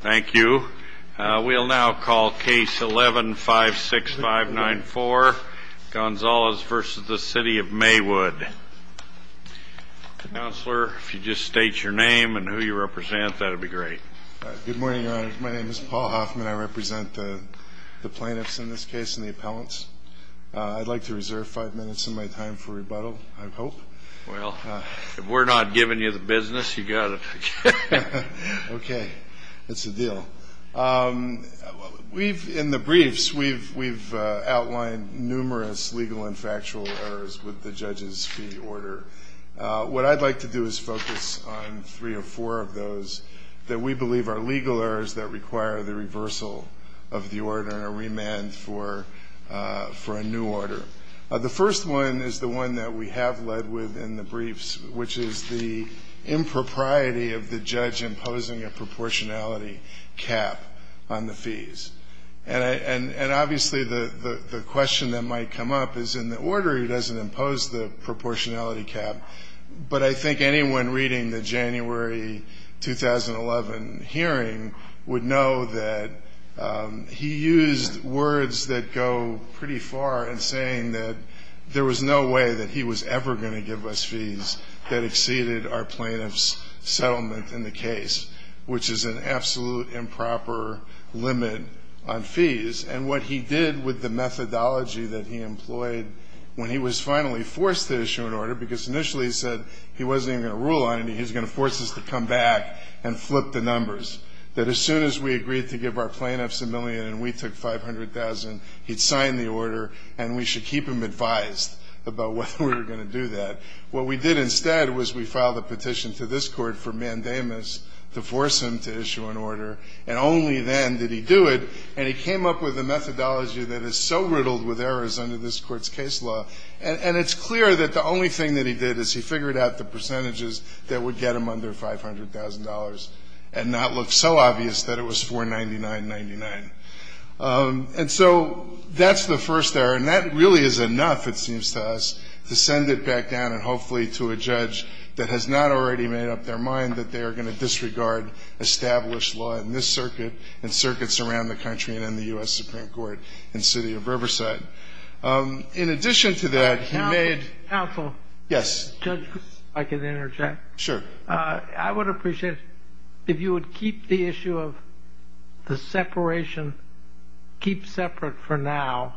Thank you. We'll now call Case 11-56594, Gonzalez v. City of Maywood. Counselor, if you just state your name and who you represent, that would be great. Good morning, Your Honor. My name is Paul Hoffman. I represent the plaintiffs in this case and the appellants. I'd like to reserve five minutes of my time for rebuttal, I hope. Well, if we're not giving you the business, you've got to take it. Okay. That's a deal. In the briefs, we've outlined numerous legal and factual errors with the judge's fee order. What I'd like to do is focus on three or four of those that we believe are legal errors that require the reversal of the order and a remand for a new order. The first one is the one that we have led with in the briefs, which is the impropriety of the judge imposing a proportionality cap on the fees. And obviously, the question that might come up is, in the order, he doesn't impose the proportionality cap. But I think anyone reading the January 2011 hearing would know that he used words that go pretty far in saying that there was no way that he was ever going to give us fees that exceeded our plaintiff's settlement in the case, which is an absolute improper limit on fees. And what he did with the methodology that he employed when he was finally forced to issue an order, because initially he said he wasn't even going to rule on it, he was going to force us to come back and flip the numbers, that as soon as we agreed to give our plaintiffs a million and we took 500,000, he'd sign the order and we should keep him advised about whether we were going to do that. What we did instead was we filed a petition to this Court for mandamus to force him to issue an order, and only then did he do it. And he came up with a methodology that is so riddled with errors under this Court's case law, and it's clear that the only thing that he did is he figured out the percentages that would get him under $500,000 and not look so obvious that it was 499.99. And so that's the first error, and that really is enough, it seems to us, to send it back down and hopefully to a judge that has not already made up their mind that they are going to disregard established law in this circuit and circuits around the country and in the U.S. Supreme Court in the city of Riverside. In addition to that, he made – Counsel. Yes. Judge, if I could interject. Sure. I would appreciate if you would keep the issue of the separation, keep separate for now,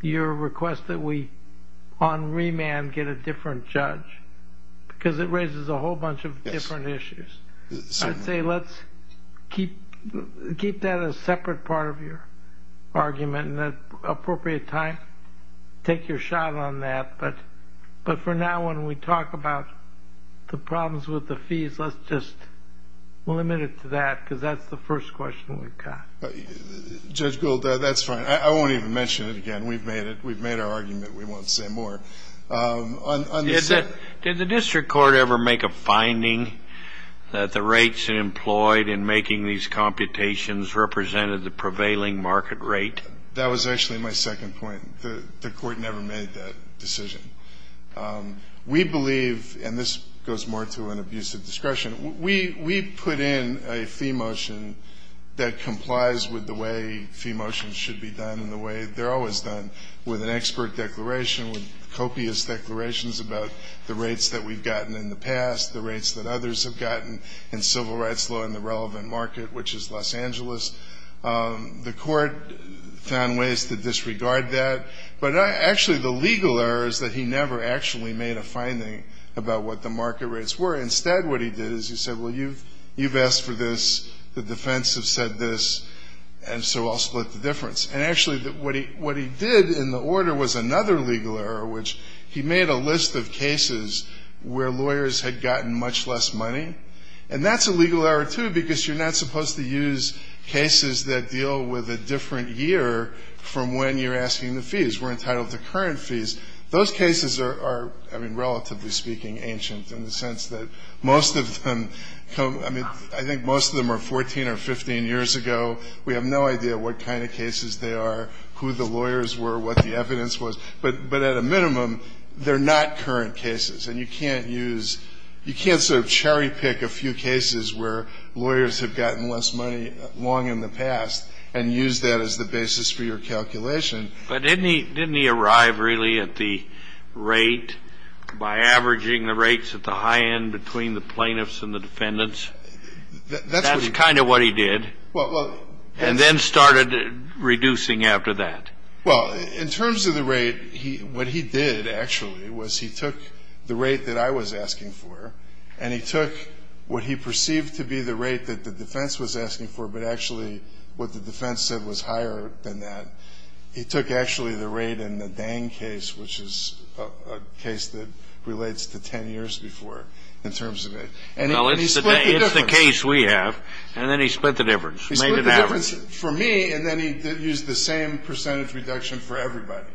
your request that we on remand get a different judge, because it raises a whole bunch of different issues. I'd say let's keep that a separate part of your argument in an appropriate time, take your shot on that, but for now when we talk about the problems with the fees, let's just limit it to that, because that's the first question we've got. Judge Gould, that's fine. I won't even mention it again. We've made it. We've made our argument. We won't say more. Did the district court ever make a finding that the rates employed in making these computations represented the prevailing market rate? That was actually my second point. The court never made that decision. We believe, and this goes more to an abuse of discretion, we put in a fee motion that complies with the way fee motions should be done and the way they're always done with an expert declaration, with copious declarations about the rates that we've gotten in the past, the rates that others have gotten in civil rights law in the relevant market, which is Los Angeles. The court found ways to disregard that, but actually the legal error is that he never actually made a finding about what the market rates were. Instead what he did is he said, well, you've asked for this, the defense have said this, and so I'll split the difference. And actually what he did in the order was another legal error, which he made a list of cases where lawyers had gotten much less money, and that's a legal error, too, because you're not supposed to use cases that deal with a different year from when you're asking the fees. We're entitled to current fees. Those cases are, I mean, relatively speaking, ancient in the sense that most of them, I mean, I think most of them are 14 or 15 years ago. We have no idea what kind of cases they are, who the lawyers were, what the evidence was, but at a minimum they're not current cases, and you can't use, you can't sort of cherry pick a few cases where lawyers have gotten less money long in the past and use that as the basis for your calculation. But didn't he arrive really at the rate by averaging the rates at the high end between the plaintiffs and the defendants? That's kind of what he did. And then started reducing after that. Well, in terms of the rate, what he did actually was he took the rate that I was asking for and he took what he perceived to be the rate that the defense was asking for, but actually what the defense said was higher than that. He took actually the rate in the Dang case, which is a case that relates to 10 years before in terms of it. And he split the difference. Well, it's the case we have. And then he split the difference, made an average. He split the difference for me, and then he used the same percentage reduction for everybody.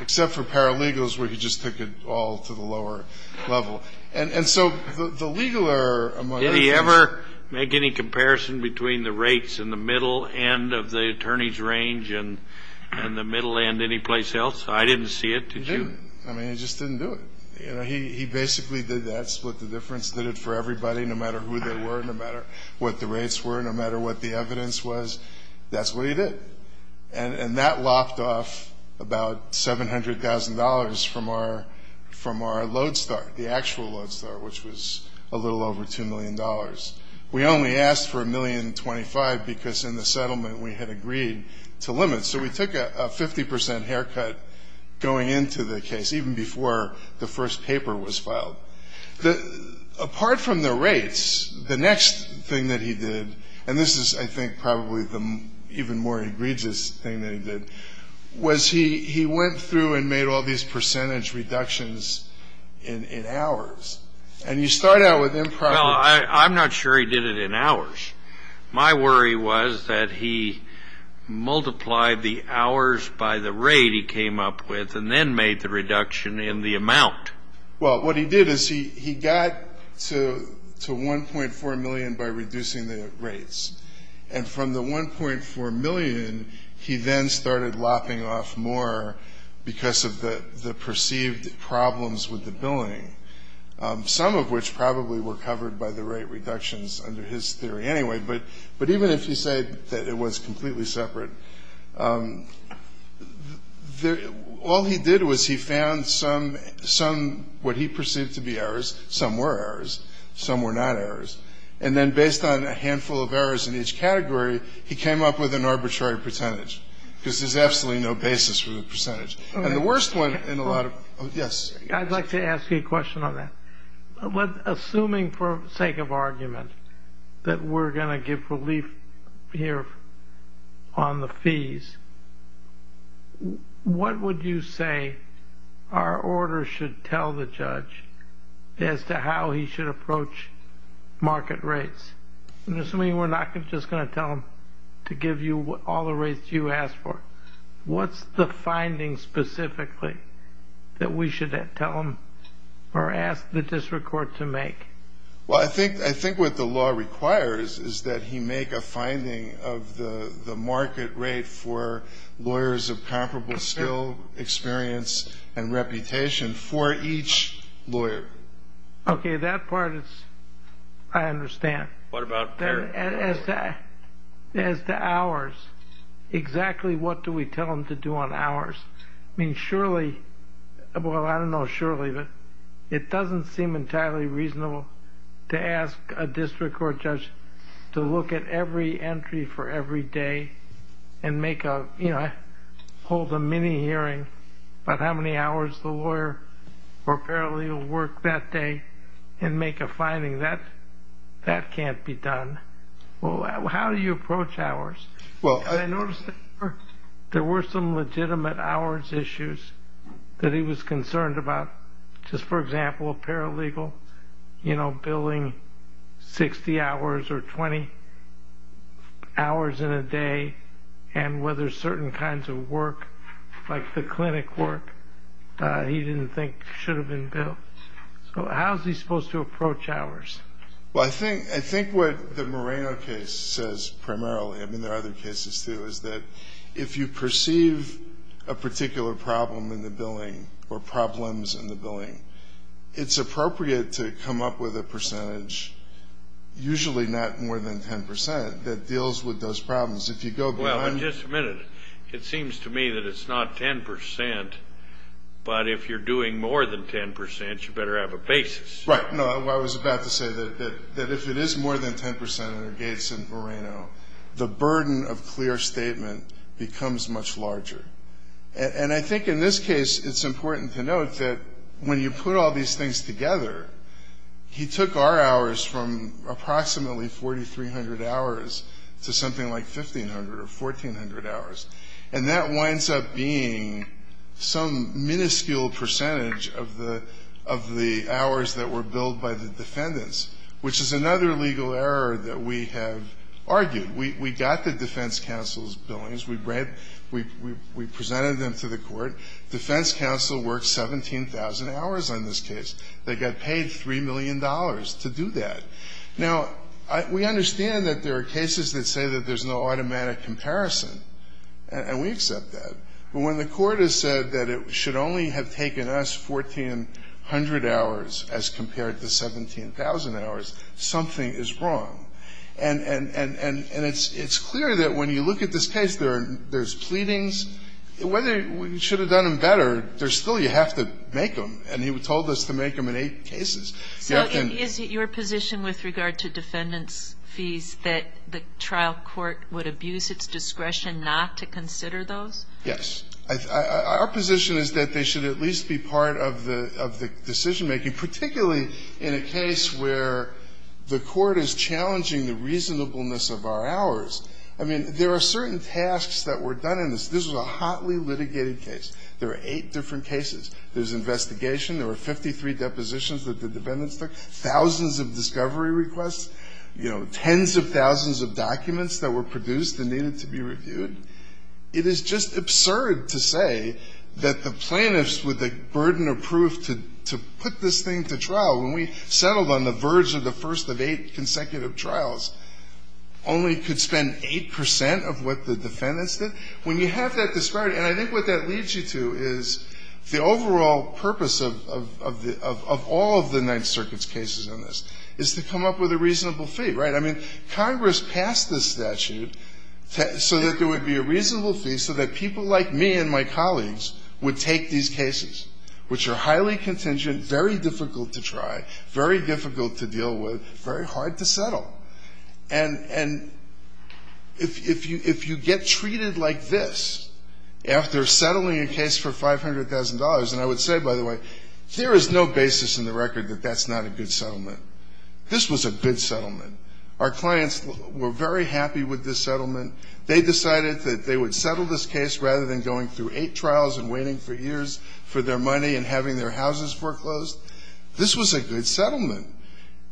Except for paralegals where he just took it all to the lower level. And so the legal error among other things. Did he ever make any comparison between the rates in the middle end of the attorney's range and the middle end anyplace else? I didn't see it. He didn't. I mean, he just didn't do it. He basically did that, split the difference, did it for everybody, no matter who they were, no matter what the rates were, no matter what the evidence was. That's what he did. And that lopped off about $700,000 from our load start, the actual load start, which was a little over $2 million. We only asked for $1,025,000 because in the settlement we had agreed to limit. So we took a 50% haircut going into the case, even before the first paper was filed. Apart from the rates, the next thing that he did, and this is, I think, probably the even more egregious thing that he did, was he went through and made all these percentage reductions in hours. And you start out with them probably. I'm not sure he did it in hours. My worry was that he multiplied the hours by the rate he came up with and then made the reduction in the amount. Well, what he did is he got to $1.4 million by reducing the rates. And from the $1.4 million, he then started lopping off more because of the perceived problems with the billing, some of which probably were covered by the rate reductions under his theory anyway. But even if he said that it was completely separate, all he did was he found some what he perceived to be errors. Some were errors. Some were not errors. And then based on a handful of errors in each category, he came up with an arbitrary percentage because there's absolutely no basis for the percentage. And the worst one in a lot of – yes? I'd like to ask you a question on that. Assuming for sake of argument that we're going to give relief here on the fees, what would you say our order should tell the judge as to how he should approach market rates? I'm assuming we're not just going to tell him to give you all the rates you asked for. What's the finding specifically that we should tell him or ask the district court to make? Well, I think what the law requires is that he make a finding of the market rate for lawyers of comparable skill, experience, and reputation for each lawyer. Okay, that part I understand. What about their? As to ours, exactly what do we tell them to do on ours? I mean, surely – well, I don't know surely, but it doesn't seem entirely reasonable to ask a district court judge to look at every entry for every day and make a – you know, hold a mini-hearing about how many hours the lawyer or paralegal worked that day and make a finding. That can't be done. Well, how do you approach ours? I noticed there were some legitimate hours issues that he was concerned about. Just, for example, a paralegal, you know, billing 60 hours or 20 hours in a day and whether certain kinds of work, like the clinic work, he didn't think should have been billed. So how is he supposed to approach ours? Well, I think what the Moreno case says primarily, I mean, there are other cases too, is that if you perceive a particular problem in the billing or problems in the billing, it's appropriate to come up with a percentage, usually not more than 10 percent, that deals with those problems. If you go beyond – Well, and just a minute, it seems to me that it's not 10 percent, but if you're doing more than 10 percent, you better have a basis. Right. No, I was about to say that if it is more than 10 percent under Gates and Moreno, the burden of clear statement becomes much larger. And I think in this case it's important to note that when you put all these things together, he took our hours from approximately 4,300 hours to something like 1,500 or 1,400 hours, and that winds up being some minuscule percentage of the hours that were billed by the defendants, which is another legal error that we have argued. We got the defense counsel's billings. We presented them to the court. Defense counsel worked 17,000 hours on this case. They got paid $3 million to do that. Now, we understand that there are cases that say that there's no automatic comparison. And we accept that. But when the court has said that it should only have taken us 1,400 hours as compared to 17,000 hours, something is wrong. And it's clear that when you look at this case, there's pleadings. Whether you should have done them better, there's still – you have to make them. And he told us to make them in eight cases. So is it your position with regard to defendants' fees that the trial court would abuse its discretion not to consider those? Yes. Our position is that they should at least be part of the decision-making, particularly in a case where the court is challenging the reasonableness of our hours. I mean, there are certain tasks that were done in this. This was a hotly litigated case. There were eight different cases. There was investigation. There were 53 depositions that the defendants took, thousands of discovery requests, you know, tens of thousands of documents that were produced and needed to be reviewed. It is just absurd to say that the plaintiffs with the burden of proof to put this thing to trial, when we settled on the verge of the first of eight consecutive trials, only could spend 8 percent of what the defendants did. When you have that disparity, and I think what that leads you to is the overall purpose of all of the Ninth Circuit's cases in this is to come up with a reasonable fee, right? I mean, Congress passed this statute so that there would be a reasonable fee so that people like me and my colleagues would take these cases, which are highly contingent, very difficult to try, very difficult to deal with, very hard to settle. And if you get treated like this, after settling a case for $500,000, and I would say, by the way, there is no basis in the record that that's not a good settlement. This was a good settlement. Our clients were very happy with this settlement. They decided that they would settle this case rather than going through eight trials and waiting for years for their money and having their houses foreclosed. This was a good settlement.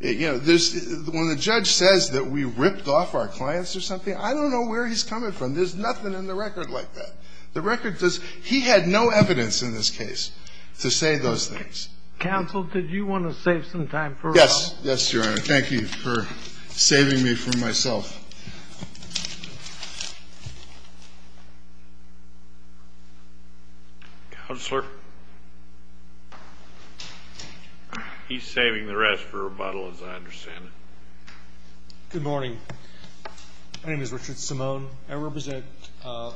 You know, when the judge says that we ripped off our clients or something, I don't know where he's coming from. There's nothing in the record like that. The record says he had no evidence in this case to say those things. Counsel, did you want to save some time for us? Yes. Yes, Your Honor. Thank you for saving me from myself. Counselor? He's saving the rest for rebuttal, as I understand it. Good morning. My name is Richard Simone. I represent all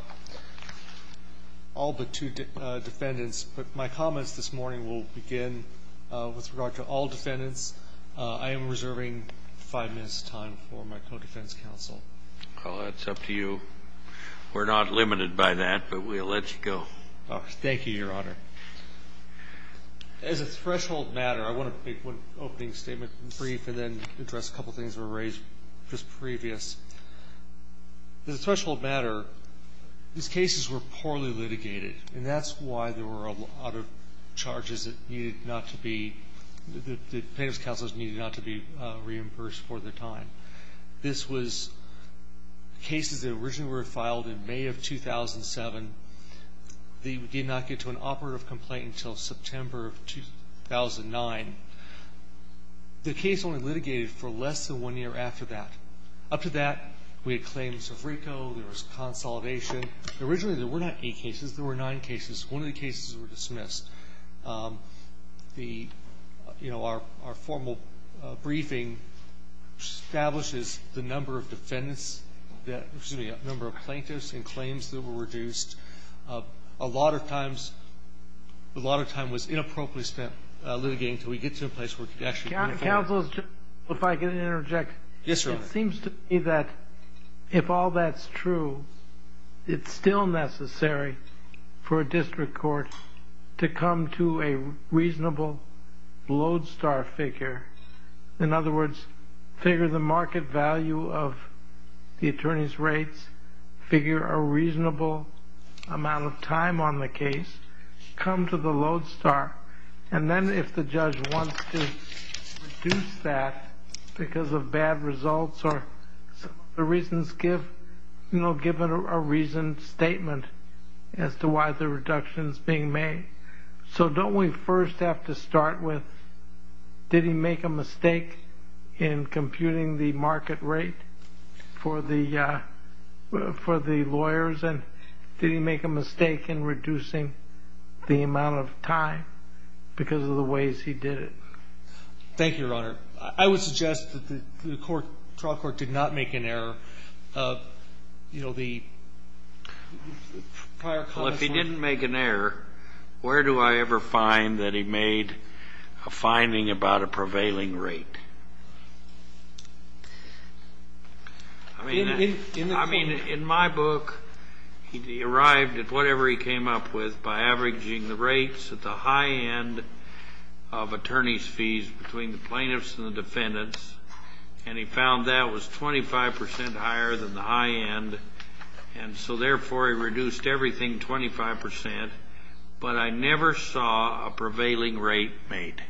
but two defendants, but my comments this morning will begin with regard to all defendants. I am reserving five minutes' time for my co-defense counsel. Well, that's up to you. We're not limited by that, but we'll let you go. Thank you, Your Honor. As a threshold matter, I want to make one opening statement brief and then address a couple things that were raised just previous. As a threshold matter, these cases were poorly litigated, and that's why there were a lot of charges that needed not to be the plaintiff's counsel needed not to be reimbursed for their time. This was cases that originally were filed in May of 2007. They did not get to an operative complaint until September of 2009. The case only litigated for less than one year after that. Up to that, we had claims of RICO. There was consolidation. Originally, there were not eight cases. There were nine cases. One of the cases were dismissed. The – you know, our formal briefing establishes the number of defendants that – excuse me, the number of plaintiffs and claims that were reduced. A lot of times – a lot of time was inappropriately spent litigating until we get to a place where we can actually bring it forward. Yes, Your Honor. It seems to me that if all that's true, it's still necessary for a district court to come to a reasonable lodestar figure. In other words, figure the market value of the attorney's rates, figure a reasonable amount of time on the case, come to the lodestar. And then if the judge wants to reduce that because of bad results or the reasons give, you know, give a reasoned statement as to why the reduction is being made. So don't we first have to start with did he make a mistake in computing the market rate for the lawyers and did he make a mistake in reducing the amount of time because of the ways he did it? Thank you, Your Honor. I would suggest that the trial court did not make an error. You know, the prior – Well, if he didn't make an error, where do I ever find that he made a finding about a prevailing rate? I mean, in my book, he arrived at whatever he came up with by averaging the rates at the high end of attorney's fees between the plaintiffs and the defendants, and he found that was 25 percent higher than the high end, and so therefore he reduced everything 25 percent. But I never saw a prevailing rate made.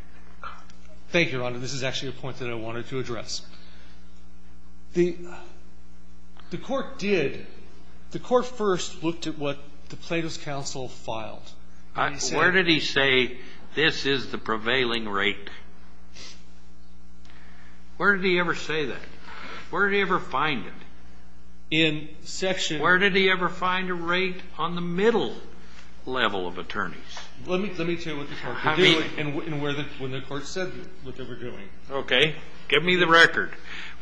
Thank you, Your Honor. This is actually a point that I wanted to address. The court did – the court first looked at what the Plato's counsel filed. Where did he say this is the prevailing rate? Where did he ever say that? Where did he ever find it? In section – Where did he ever find a rate on the middle level of attorneys? Let me tell you what the court said and what they were doing. Okay. Give me the record.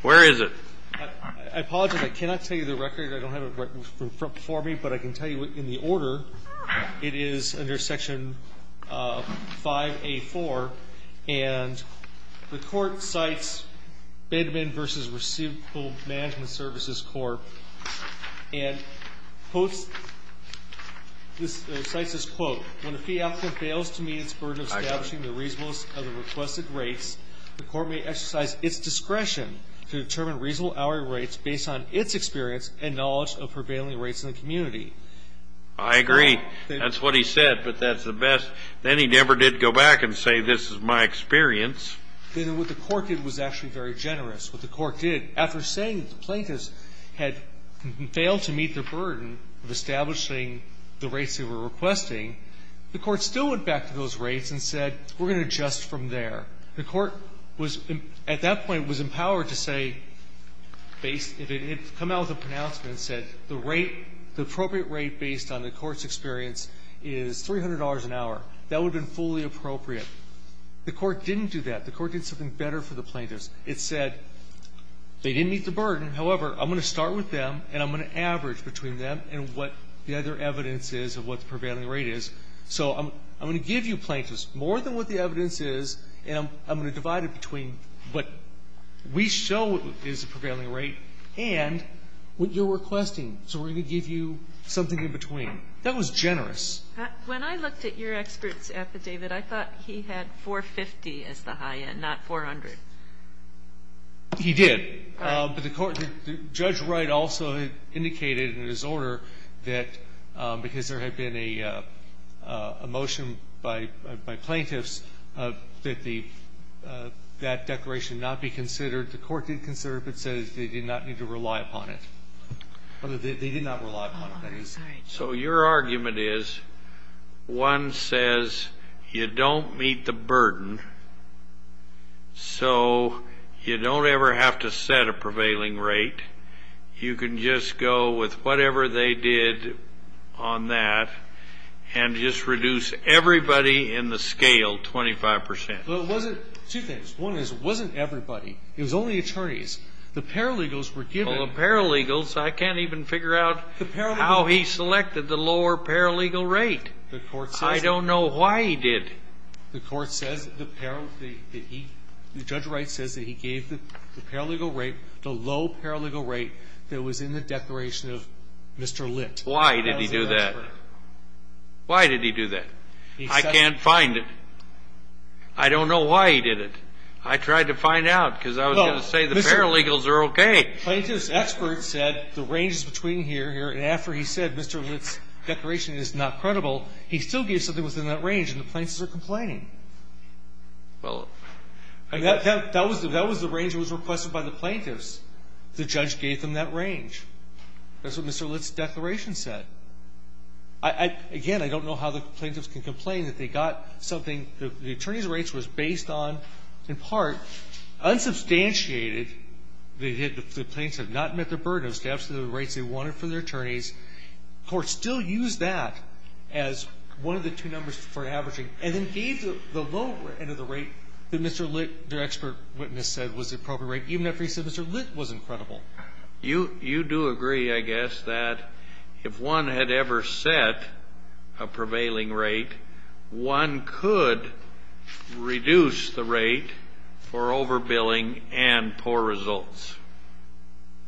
Where is it? I apologize. I cannot tell you the record. I don't have it for me, but I can tell you in the order. It is under section 5A4, and the court cites Bedman v. Receivable Management Services Corp., and quotes – cites this quote. When a fee applicant fails to meet its burden of establishing the reasonableness of the requested rates, the court may exercise its discretion to determine reasonable hourly rates based on its experience and knowledge of prevailing rates in the community. I agree. That's what he said, but that's the best. Then he never did go back and say this is my experience. Then what the court did was actually very generous. What the court did, after saying the plaintiffs had failed to meet their burden of establishing the rates they were requesting, the court still went back to those rates and said we're going to adjust from there. The court was – at that point was empowered to say – come out with a pronouncement and said the rate, the appropriate rate based on the court's experience is $300 an hour. That would have been fully appropriate. The court didn't do that. The court did something better for the plaintiffs. It said they didn't meet the burden. However, I'm going to start with them and I'm going to average between them and what the other evidence is of what the prevailing rate is. So I'm going to give you plaintiffs more than what the evidence is, and I'm going to divide it between what we show is the prevailing rate and what you're requesting. So we're going to give you something in between. That was generous. When I looked at your expert's affidavit, I thought he had 450 as the high end, not 400. He did. But the court – Judge Wright also indicated in his order that because there had been a motion by plaintiffs that the – that declaration not be considered, the court did consider it, but said they did not need to rely upon it. They did not rely upon it. So your argument is one says you don't meet the burden, so you don't ever have to set a prevailing rate. You can just go with whatever they did on that and just reduce everybody in the scale 25%. Well, it wasn't – two things. One is it wasn't everybody. It was only attorneys. The paralegals were given – Well, the paralegals, I can't even figure out how he selected the lower paralegal rate. The court says that. I don't know why he did. The court says the – the judge Wright says that he gave the paralegal rate, the low paralegal rate that was in the declaration of Mr. Litt. Why did he do that? Why did he do that? I can't find it. I don't know why he did it. I tried to find out because I was going to say the paralegals are okay. Plaintiff's expert said the range is between here and here, and after he said Mr. Litt's declaration is not credible, he still gave something within that range, and the plaintiffs are complaining. Well – That was the range that was requested by the plaintiffs. The judge gave them that range. That's what Mr. Litt's declaration said. Again, I don't know how the plaintiffs can complain that they got something The attorneys' rates was based on, in part, unsubstantiated. They did – the plaintiffs have not met the burden of staffs to the rates they wanted for their attorneys. The court still used that as one of the two numbers for averaging, and then gave the low end of the rate that Mr. Litt, their expert witness, said was the appropriate rate, even after he said Mr. Litt was incredible. You do agree, I guess, that if one had ever set a prevailing rate, one could reduce the rate for overbilling and poor results.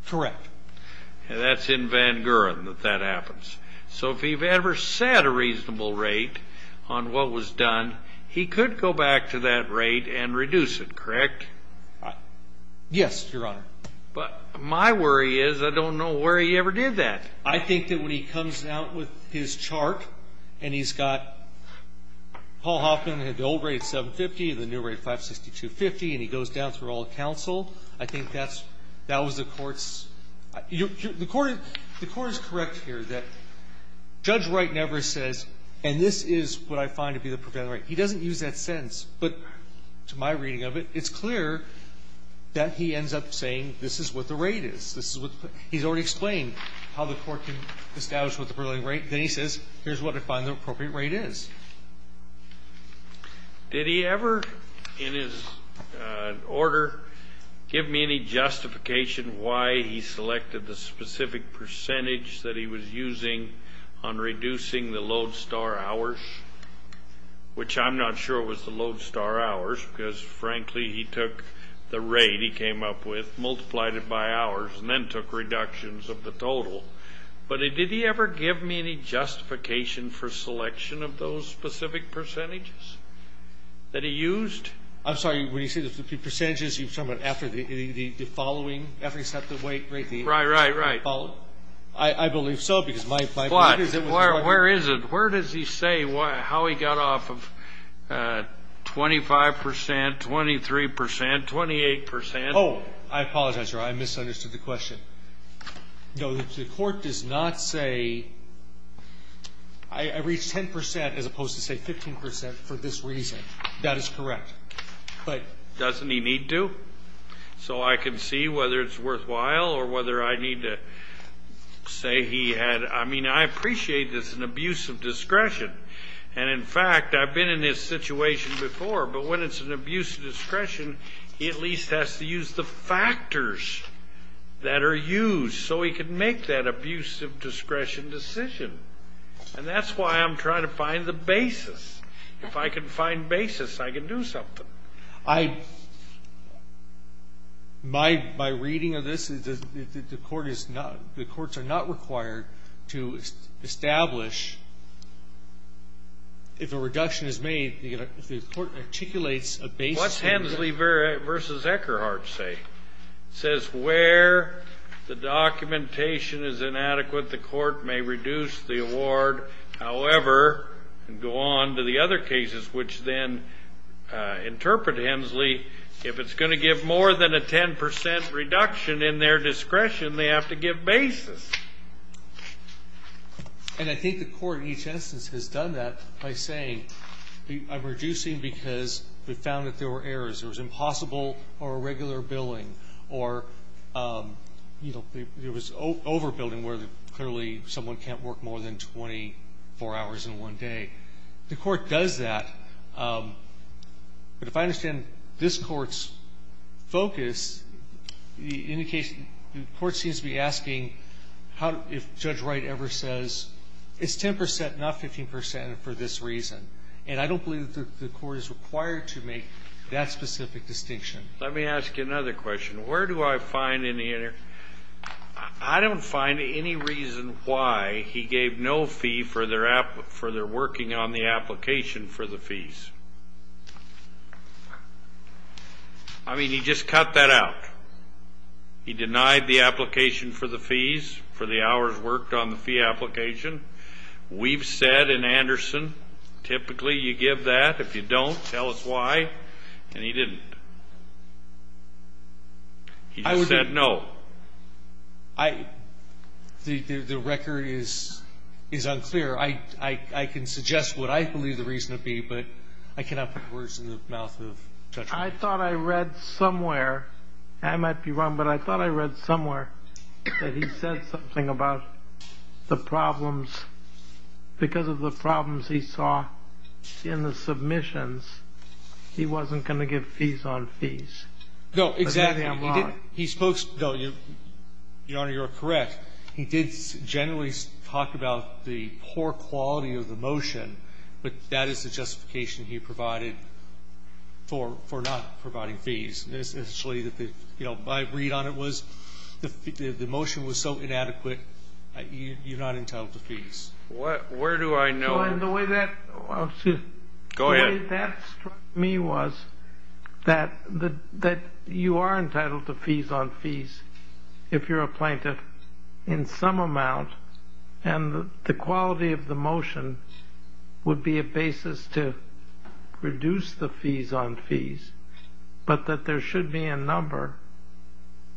Correct. That's in Van Guren that that happens. So if he ever set a reasonable rate on what was done, he could go back to that rate and reduce it, correct? Yes, Your Honor. But my worry is I don't know where he ever did that. I think that when he comes out with his chart and he's got – Paul Hoffman had the old rate, 750, and the new rate, 562.50, and he goes down through all the counsel. I think that's – that was the court's – the court is correct here that Judge Wright never says, and this is what I find to be the prevailing rate. He doesn't use that sentence. But to my reading of it, it's clear that he ends up saying this is what the rate is. He's already explained how the court can establish what the prevailing rate is. Then he says, here's what I find the appropriate rate is. Did he ever in his order give me any justification why he selected the specific percentage that he was using on reducing the load star hours, which I'm not sure was the load star hours because, frankly, he took the rate he came up with, multiplied it by hours, and then took reductions of the total. But did he ever give me any justification for selection of those specific percentages that he used? I'm sorry. When you say the percentages, you're talking about after the following – after he set the rate – Right, right, right. I believe so because my – But where is it? Where does he say how he got off of 25 percent, 23 percent, 28 percent? Oh, I apologize, Your Honor. I misunderstood the question. No, the court does not say, I reached 10 percent as opposed to, say, 15 percent for this reason. That is correct. But – Doesn't he need to? So I can see whether it's worthwhile or whether I need to say he had – I mean, I appreciate this is an abuse of discretion. And, in fact, I've been in this situation before. But when it's an abuse of discretion, he at least has to use the factors that are used so he can make that abuse of discretion decision. And that's why I'm trying to find the basis. If I can find basis, I can do something. I – my reading of this is that the court is not – the courts are not required to establish, if a reduction is made, the court articulates a basis. What's Hensley v. Eckerhardt say? It says where the documentation is inadequate, the court may reduce the award. However, and go on to the other cases which then interpret Hensley, if it's going to give more than a 10 percent reduction in their discretion, they have to give basis. And I think the Court in each instance has done that by saying I'm reducing because we found that there were errors. There was impossible or irregular billing or, you know, there was overbilling where clearly someone can't work more than 24 hours in one day. The Court does that. But if I understand this Court's focus, the indication – the Court seems to be asking how – if Judge Wright ever says it's 10 percent, not 15 percent for this reason. And I don't believe that the Court is required to make that specific distinction. Let me ask you another question. Where do I find any – I don't find any reason why he gave no fee for their working on the application for the fees. I mean, he just cut that out. He denied the application for the fees for the hours worked on the fee application. We've said in Anderson typically you give that. If you don't, tell us why. And he didn't. He just said no. I – the record is unclear. I can suggest what I believe the reason would be, but I cannot put words in the mouth of Judge Wright. I thought I read somewhere – and I might be wrong, but I thought I read somewhere that he said something about the problems. Because of the problems he saw in the submissions, he wasn't going to give fees on fees. No, exactly. He spoke – no, Your Honor, you're correct. He did generally talk about the poor quality of the motion, but that is the justification he provided for not providing fees. Essentially, you know, my read on it was the motion was so inadequate, you're not entitled to fees. Where do I know? Go ahead. The way that struck me was that you are entitled to fees on fees if you're a plaintiff in some amount, and the quality of the motion would be a basis to reduce the fees on fees, but that there should be a number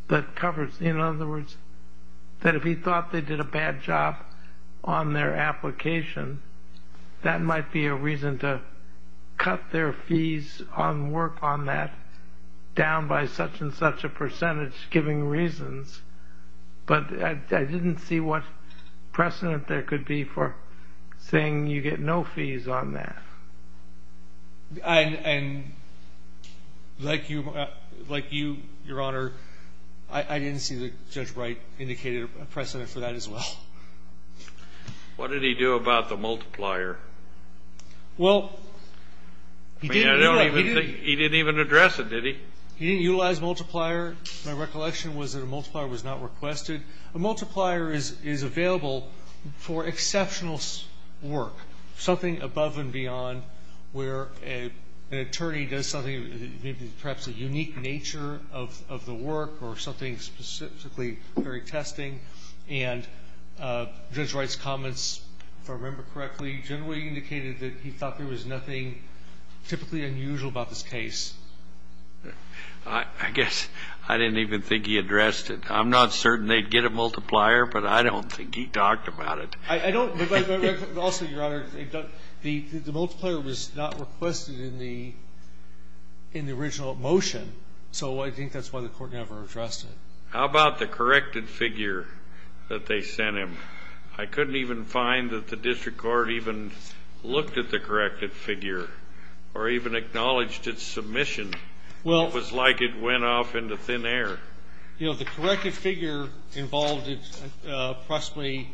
that covers – in other words, that if he thought they did a bad job on their application, that might be a reason to cut their fees on work on that down by such and such a percentage, giving reasons. But I didn't see what precedent there could be for saying you get no fees on that. And like you, Your Honor, I didn't see that Judge Wright indicated a precedent for that as well. What did he do about the multiplier? Well, he didn't even address it, did he? He didn't utilize multiplier. My recollection was that a multiplier was not requested. A multiplier is available for exceptional work, something above and beyond, where an attorney does something, perhaps a unique nature of the work or something specifically very testing. And Judge Wright's comments, if I remember correctly, generally indicated that he thought there was nothing typically unusual about this case. I guess I didn't even think he addressed it. I'm not certain they'd get a multiplier, but I don't think he talked about it. I don't. But also, Your Honor, the multiplier was not requested in the original motion, so I think that's why the court never addressed it. How about the corrected figure that they sent him? I couldn't even find that the district court even looked at the corrected figure or even acknowledged its submission. It was like it went off into thin air. You know, the corrected figure involved approximately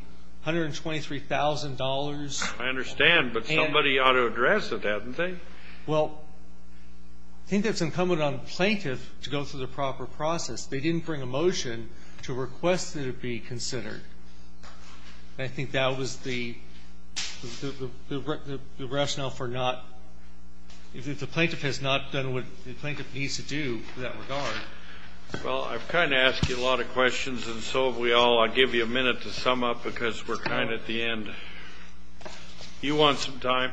$123,000. I understand, but somebody ought to address it, hadn't they? Well, I think that's incumbent on the plaintiff to go through the proper process. They didn't bring a motion to request that it be considered. And I think that was the rationale for not ñ if the plaintiff has not done what the plaintiff needs to do in that regard. Well, I've kind of asked you a lot of questions, and so have we all. I'll give you a minute to sum up, because we're kind of at the end. Do you want some time?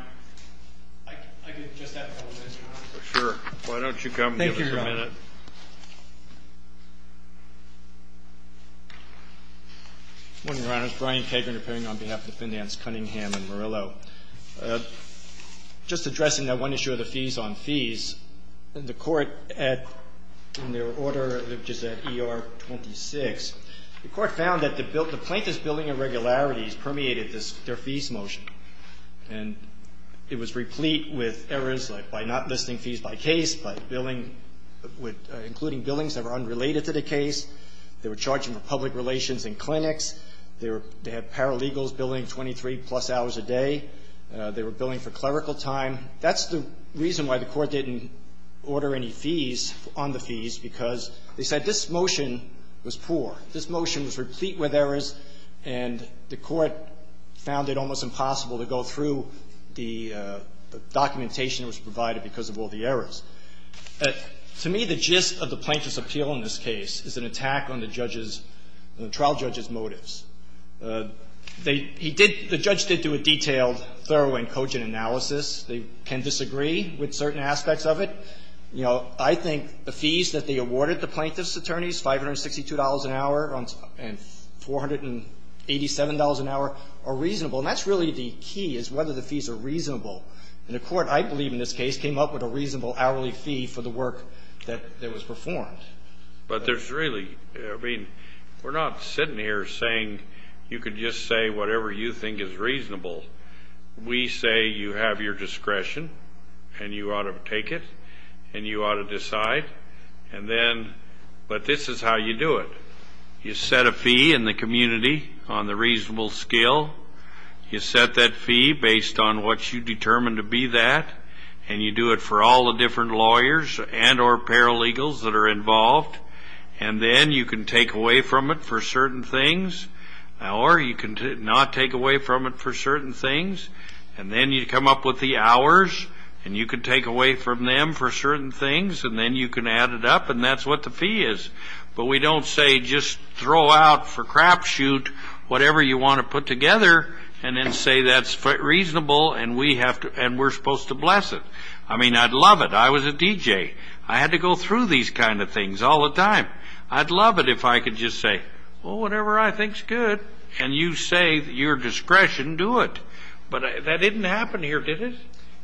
I could just have a couple minutes, Your Honor. Sure. Why don't you come and give us a minute? Thank you, Your Honor. Good morning, Your Honor. It's Brian Kagan, appearing on behalf of the Finance Cunningham and Murillo. Just addressing that one issue of the fees on fees, the Court, in their order, which is at ER 26, the Court found that the plaintiff's billing irregularities permeated their fees motion. And it was replete with errors, like by not listing fees by case, by billing with ñ including billings that were unrelated to the case. They were charging for public relations and clinics. They were ñ they had paralegals billing 23-plus hours a day. They were billing for clerical time. That's the reason why the Court didn't order any fees on the fees, because they said this motion was poor. This motion was replete with errors, and the Court found it almost impossible to go through the documentation that was provided because of all the errors. To me, the gist of the plaintiff's appeal in this case is an attack on the judge's ñ on the trial judge's motives. They ñ he did ñ the judge did do a detailed, thorough and cogent analysis. They can disagree with certain aspects of it. You know, I think the fees that they awarded the plaintiff's attorneys, $562 an hour and $487 an hour, are reasonable. And that's really the key, is whether the fees are reasonable. And the Court, I believe in this case, came up with a reasonable hourly fee for the work that was performed. But there's really ñ I mean, we're not sitting here saying you could just say whatever you think is reasonable. We say you have your discretion, and you ought to take it, and you ought to decide. And then ñ but this is how you do it. You set a fee in the community on the reasonable scale. You set that fee based on what you determine to be that. And you do it for all the different lawyers and or paralegals that are involved. And then you can take away from it for certain things. Or you can not take away from it for certain things. And then you come up with the hours, and you can take away from them for certain things. And then you can add it up, and that's what the fee is. But we don't say just throw out for crapshoot whatever you want to put together, and then say that's reasonable, and we have to ñ and we're supposed to bless it. I mean, I'd love it. I was a DJ. I had to go through these kind of things all the time. I'd love it if I could just say, well, whatever I think's good, and you say your discretion, do it. But that didn't happen here, did it?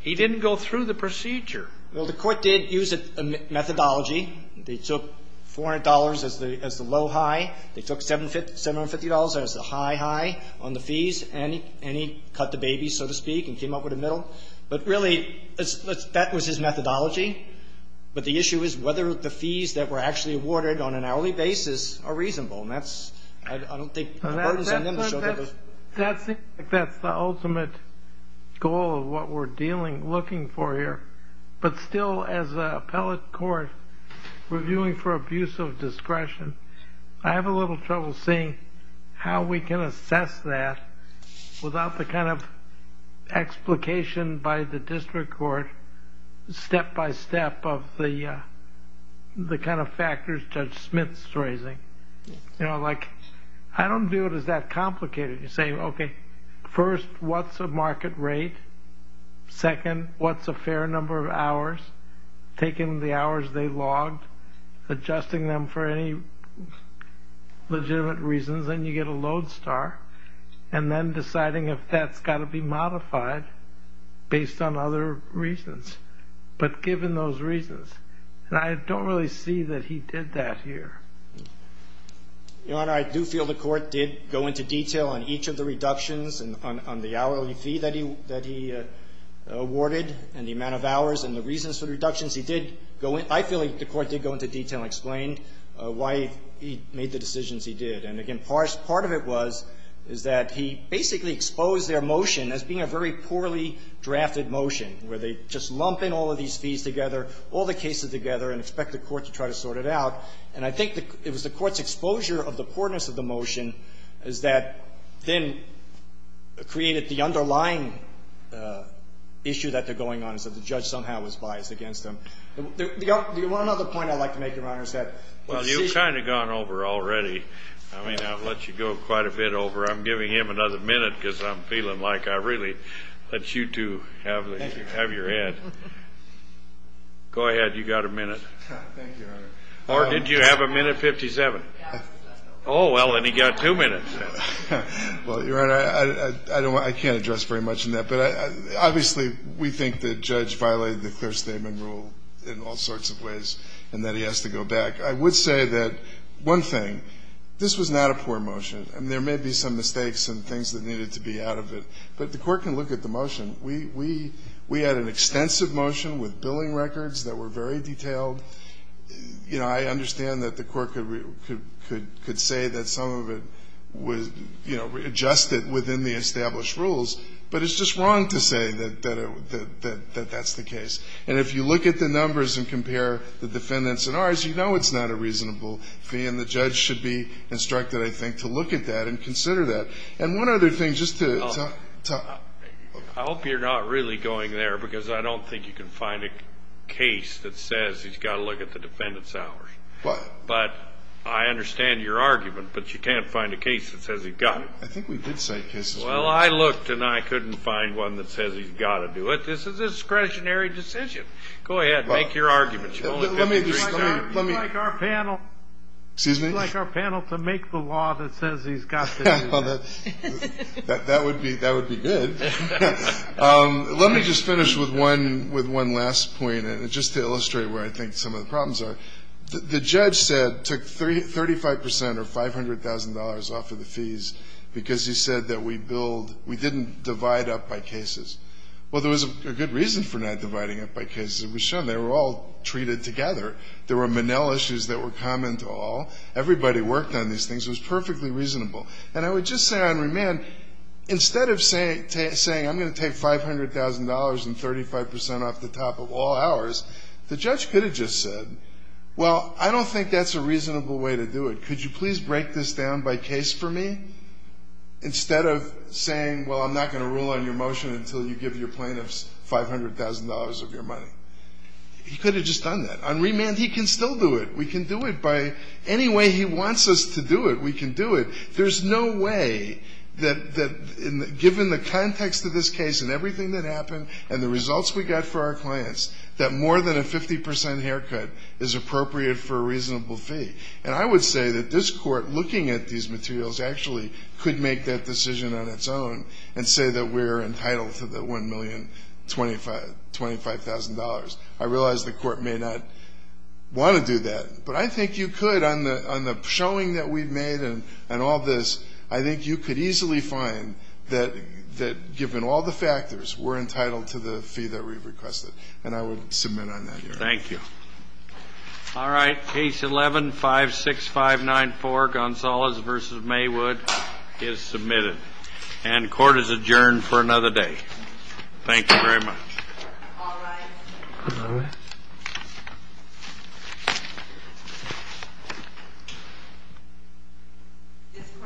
He didn't go through the procedure. Well, the Court did use a methodology. They took $400 as the low high. They took $750 as the high high on the fees, and he cut the baby, so to speak, and came up with a middle. But really, that was his methodology. But the issue is whether the fees that were actually awarded on an hourly basis are reasonable, and that's ñ I don't think the burden's on them to show that they're ñ That's the ultimate goal of what we're dealing ñ looking for here. But still, as an appellate court reviewing for abuse of discretion, I have a little trouble seeing how we can assess that without the kind of explication by the district court, step by step, of the kind of factors Judge Smith's raising. You know, like, I don't view it as that complicated. You say, okay, first, what's a market rate? Second, what's a fair number of hours? Taking the hours they logged, adjusting them for any legitimate reasons, and you get a load star, and then deciding if that's got to be modified based on other reasons. But given those reasons, and I don't really see that he did that here. Your Honor, I do feel the Court did go into detail on each of the reductions on the hourly fee that he ñ that he awarded and the amount of hours and the reasons for the reductions. He did go in ñ I feel like the Court did go into detail and explain why he made the decisions he did. And again, part of it was, is that he basically exposed their motion as being a very poorly drafted motion, where they just lump in all of these fees together, all the cases together, and expect the Court to try to sort it out. And I think it was the Court's exposure of the poorness of the motion is that then it created the underlying issue that they're going on, is that the judge somehow was biased against them. Do you want another point I'd like to make, Your Honor, is that ñ Well, you've kind of gone over already. I mean, I've let you go quite a bit over. I'm giving him another minute because I'm feeling like I really let you two have the ñ Thank you. Have your head. Go ahead. You've got a minute. Thank you, Your Honor. Or did you have a minute 57? Yes. Oh, well, then he got two minutes. Well, Your Honor, I don't want ñ I can't address very much in that. But obviously, we think the judge violated the clear statement rule in all sorts of ways, and that he has to go back. I would say that, one thing, this was not a poor motion. I mean, there may be some mistakes and things that needed to be out of it. But the Court can look at the motion. We had an extensive motion with billing records that were very detailed. You know, I understand that the Court could say that some of it was, you know, readjusted within the established rules. But it's just wrong to say that that's the case. And if you look at the numbers and compare the defendants and ours, you know it's not a reasonable fee. And the judge should be instructed, I think, to look at that and consider that. And one other thing, just to ñ I hope you're not really going there because I don't think you can find a case that says he's got to look at the defendants' hours. But I understand your argument, but you can't find a case that says he's got to. I think we did cite cases. Well, I looked, and I couldn't find one that says he's got to do it. This is a discretionary decision. Go ahead. Make your argument. Let me just ñ You'd like our panel ñ Excuse me? You'd like our panel to make the law that says he's got to do that. That would be good. Let me just finish with one last point, and just to illustrate where I think some of the problems are. The judge said ñ took 35 percent or $500,000 off of the fees because he said that we build ñ we didn't divide up by cases. Well, there was a good reason for not dividing up by cases. It was shown they were all treated together. There were Manel issues that were common to all. Everybody worked on these things. It was perfectly reasonable. And I would just say on remand, instead of saying I'm going to take $500,000 and 35 percent off the top of all hours, the judge could have just said, well, I don't think that's a reasonable way to do it. Could you please break this down by case for me? Instead of saying, well, I'm not going to rule on your motion until you give your plaintiffs $500,000 of your money. He could have just done that. On remand, he can still do it. We can do it by any way he wants us to do it. We can do it. There's no way that, given the context of this case and everything that happened and the results we got for our clients, that more than a 50 percent haircut is appropriate for a reasonable fee. And I would say that this Court, looking at these materials, actually could make that decision on its own and say that we're entitled to the $1,025,000. I realize the Court may not want to do that, but I think you could on the showing that we've made and all this. I think you could easily find that, given all the factors, we're entitled to the fee that we've requested. And I would submit on that, Your Honor. Thank you. All right. Case 11-56594, Gonzales v. Maywood, is submitted. And court is adjourned for another day. Thank you very much. All rise. This Court stands adjourned.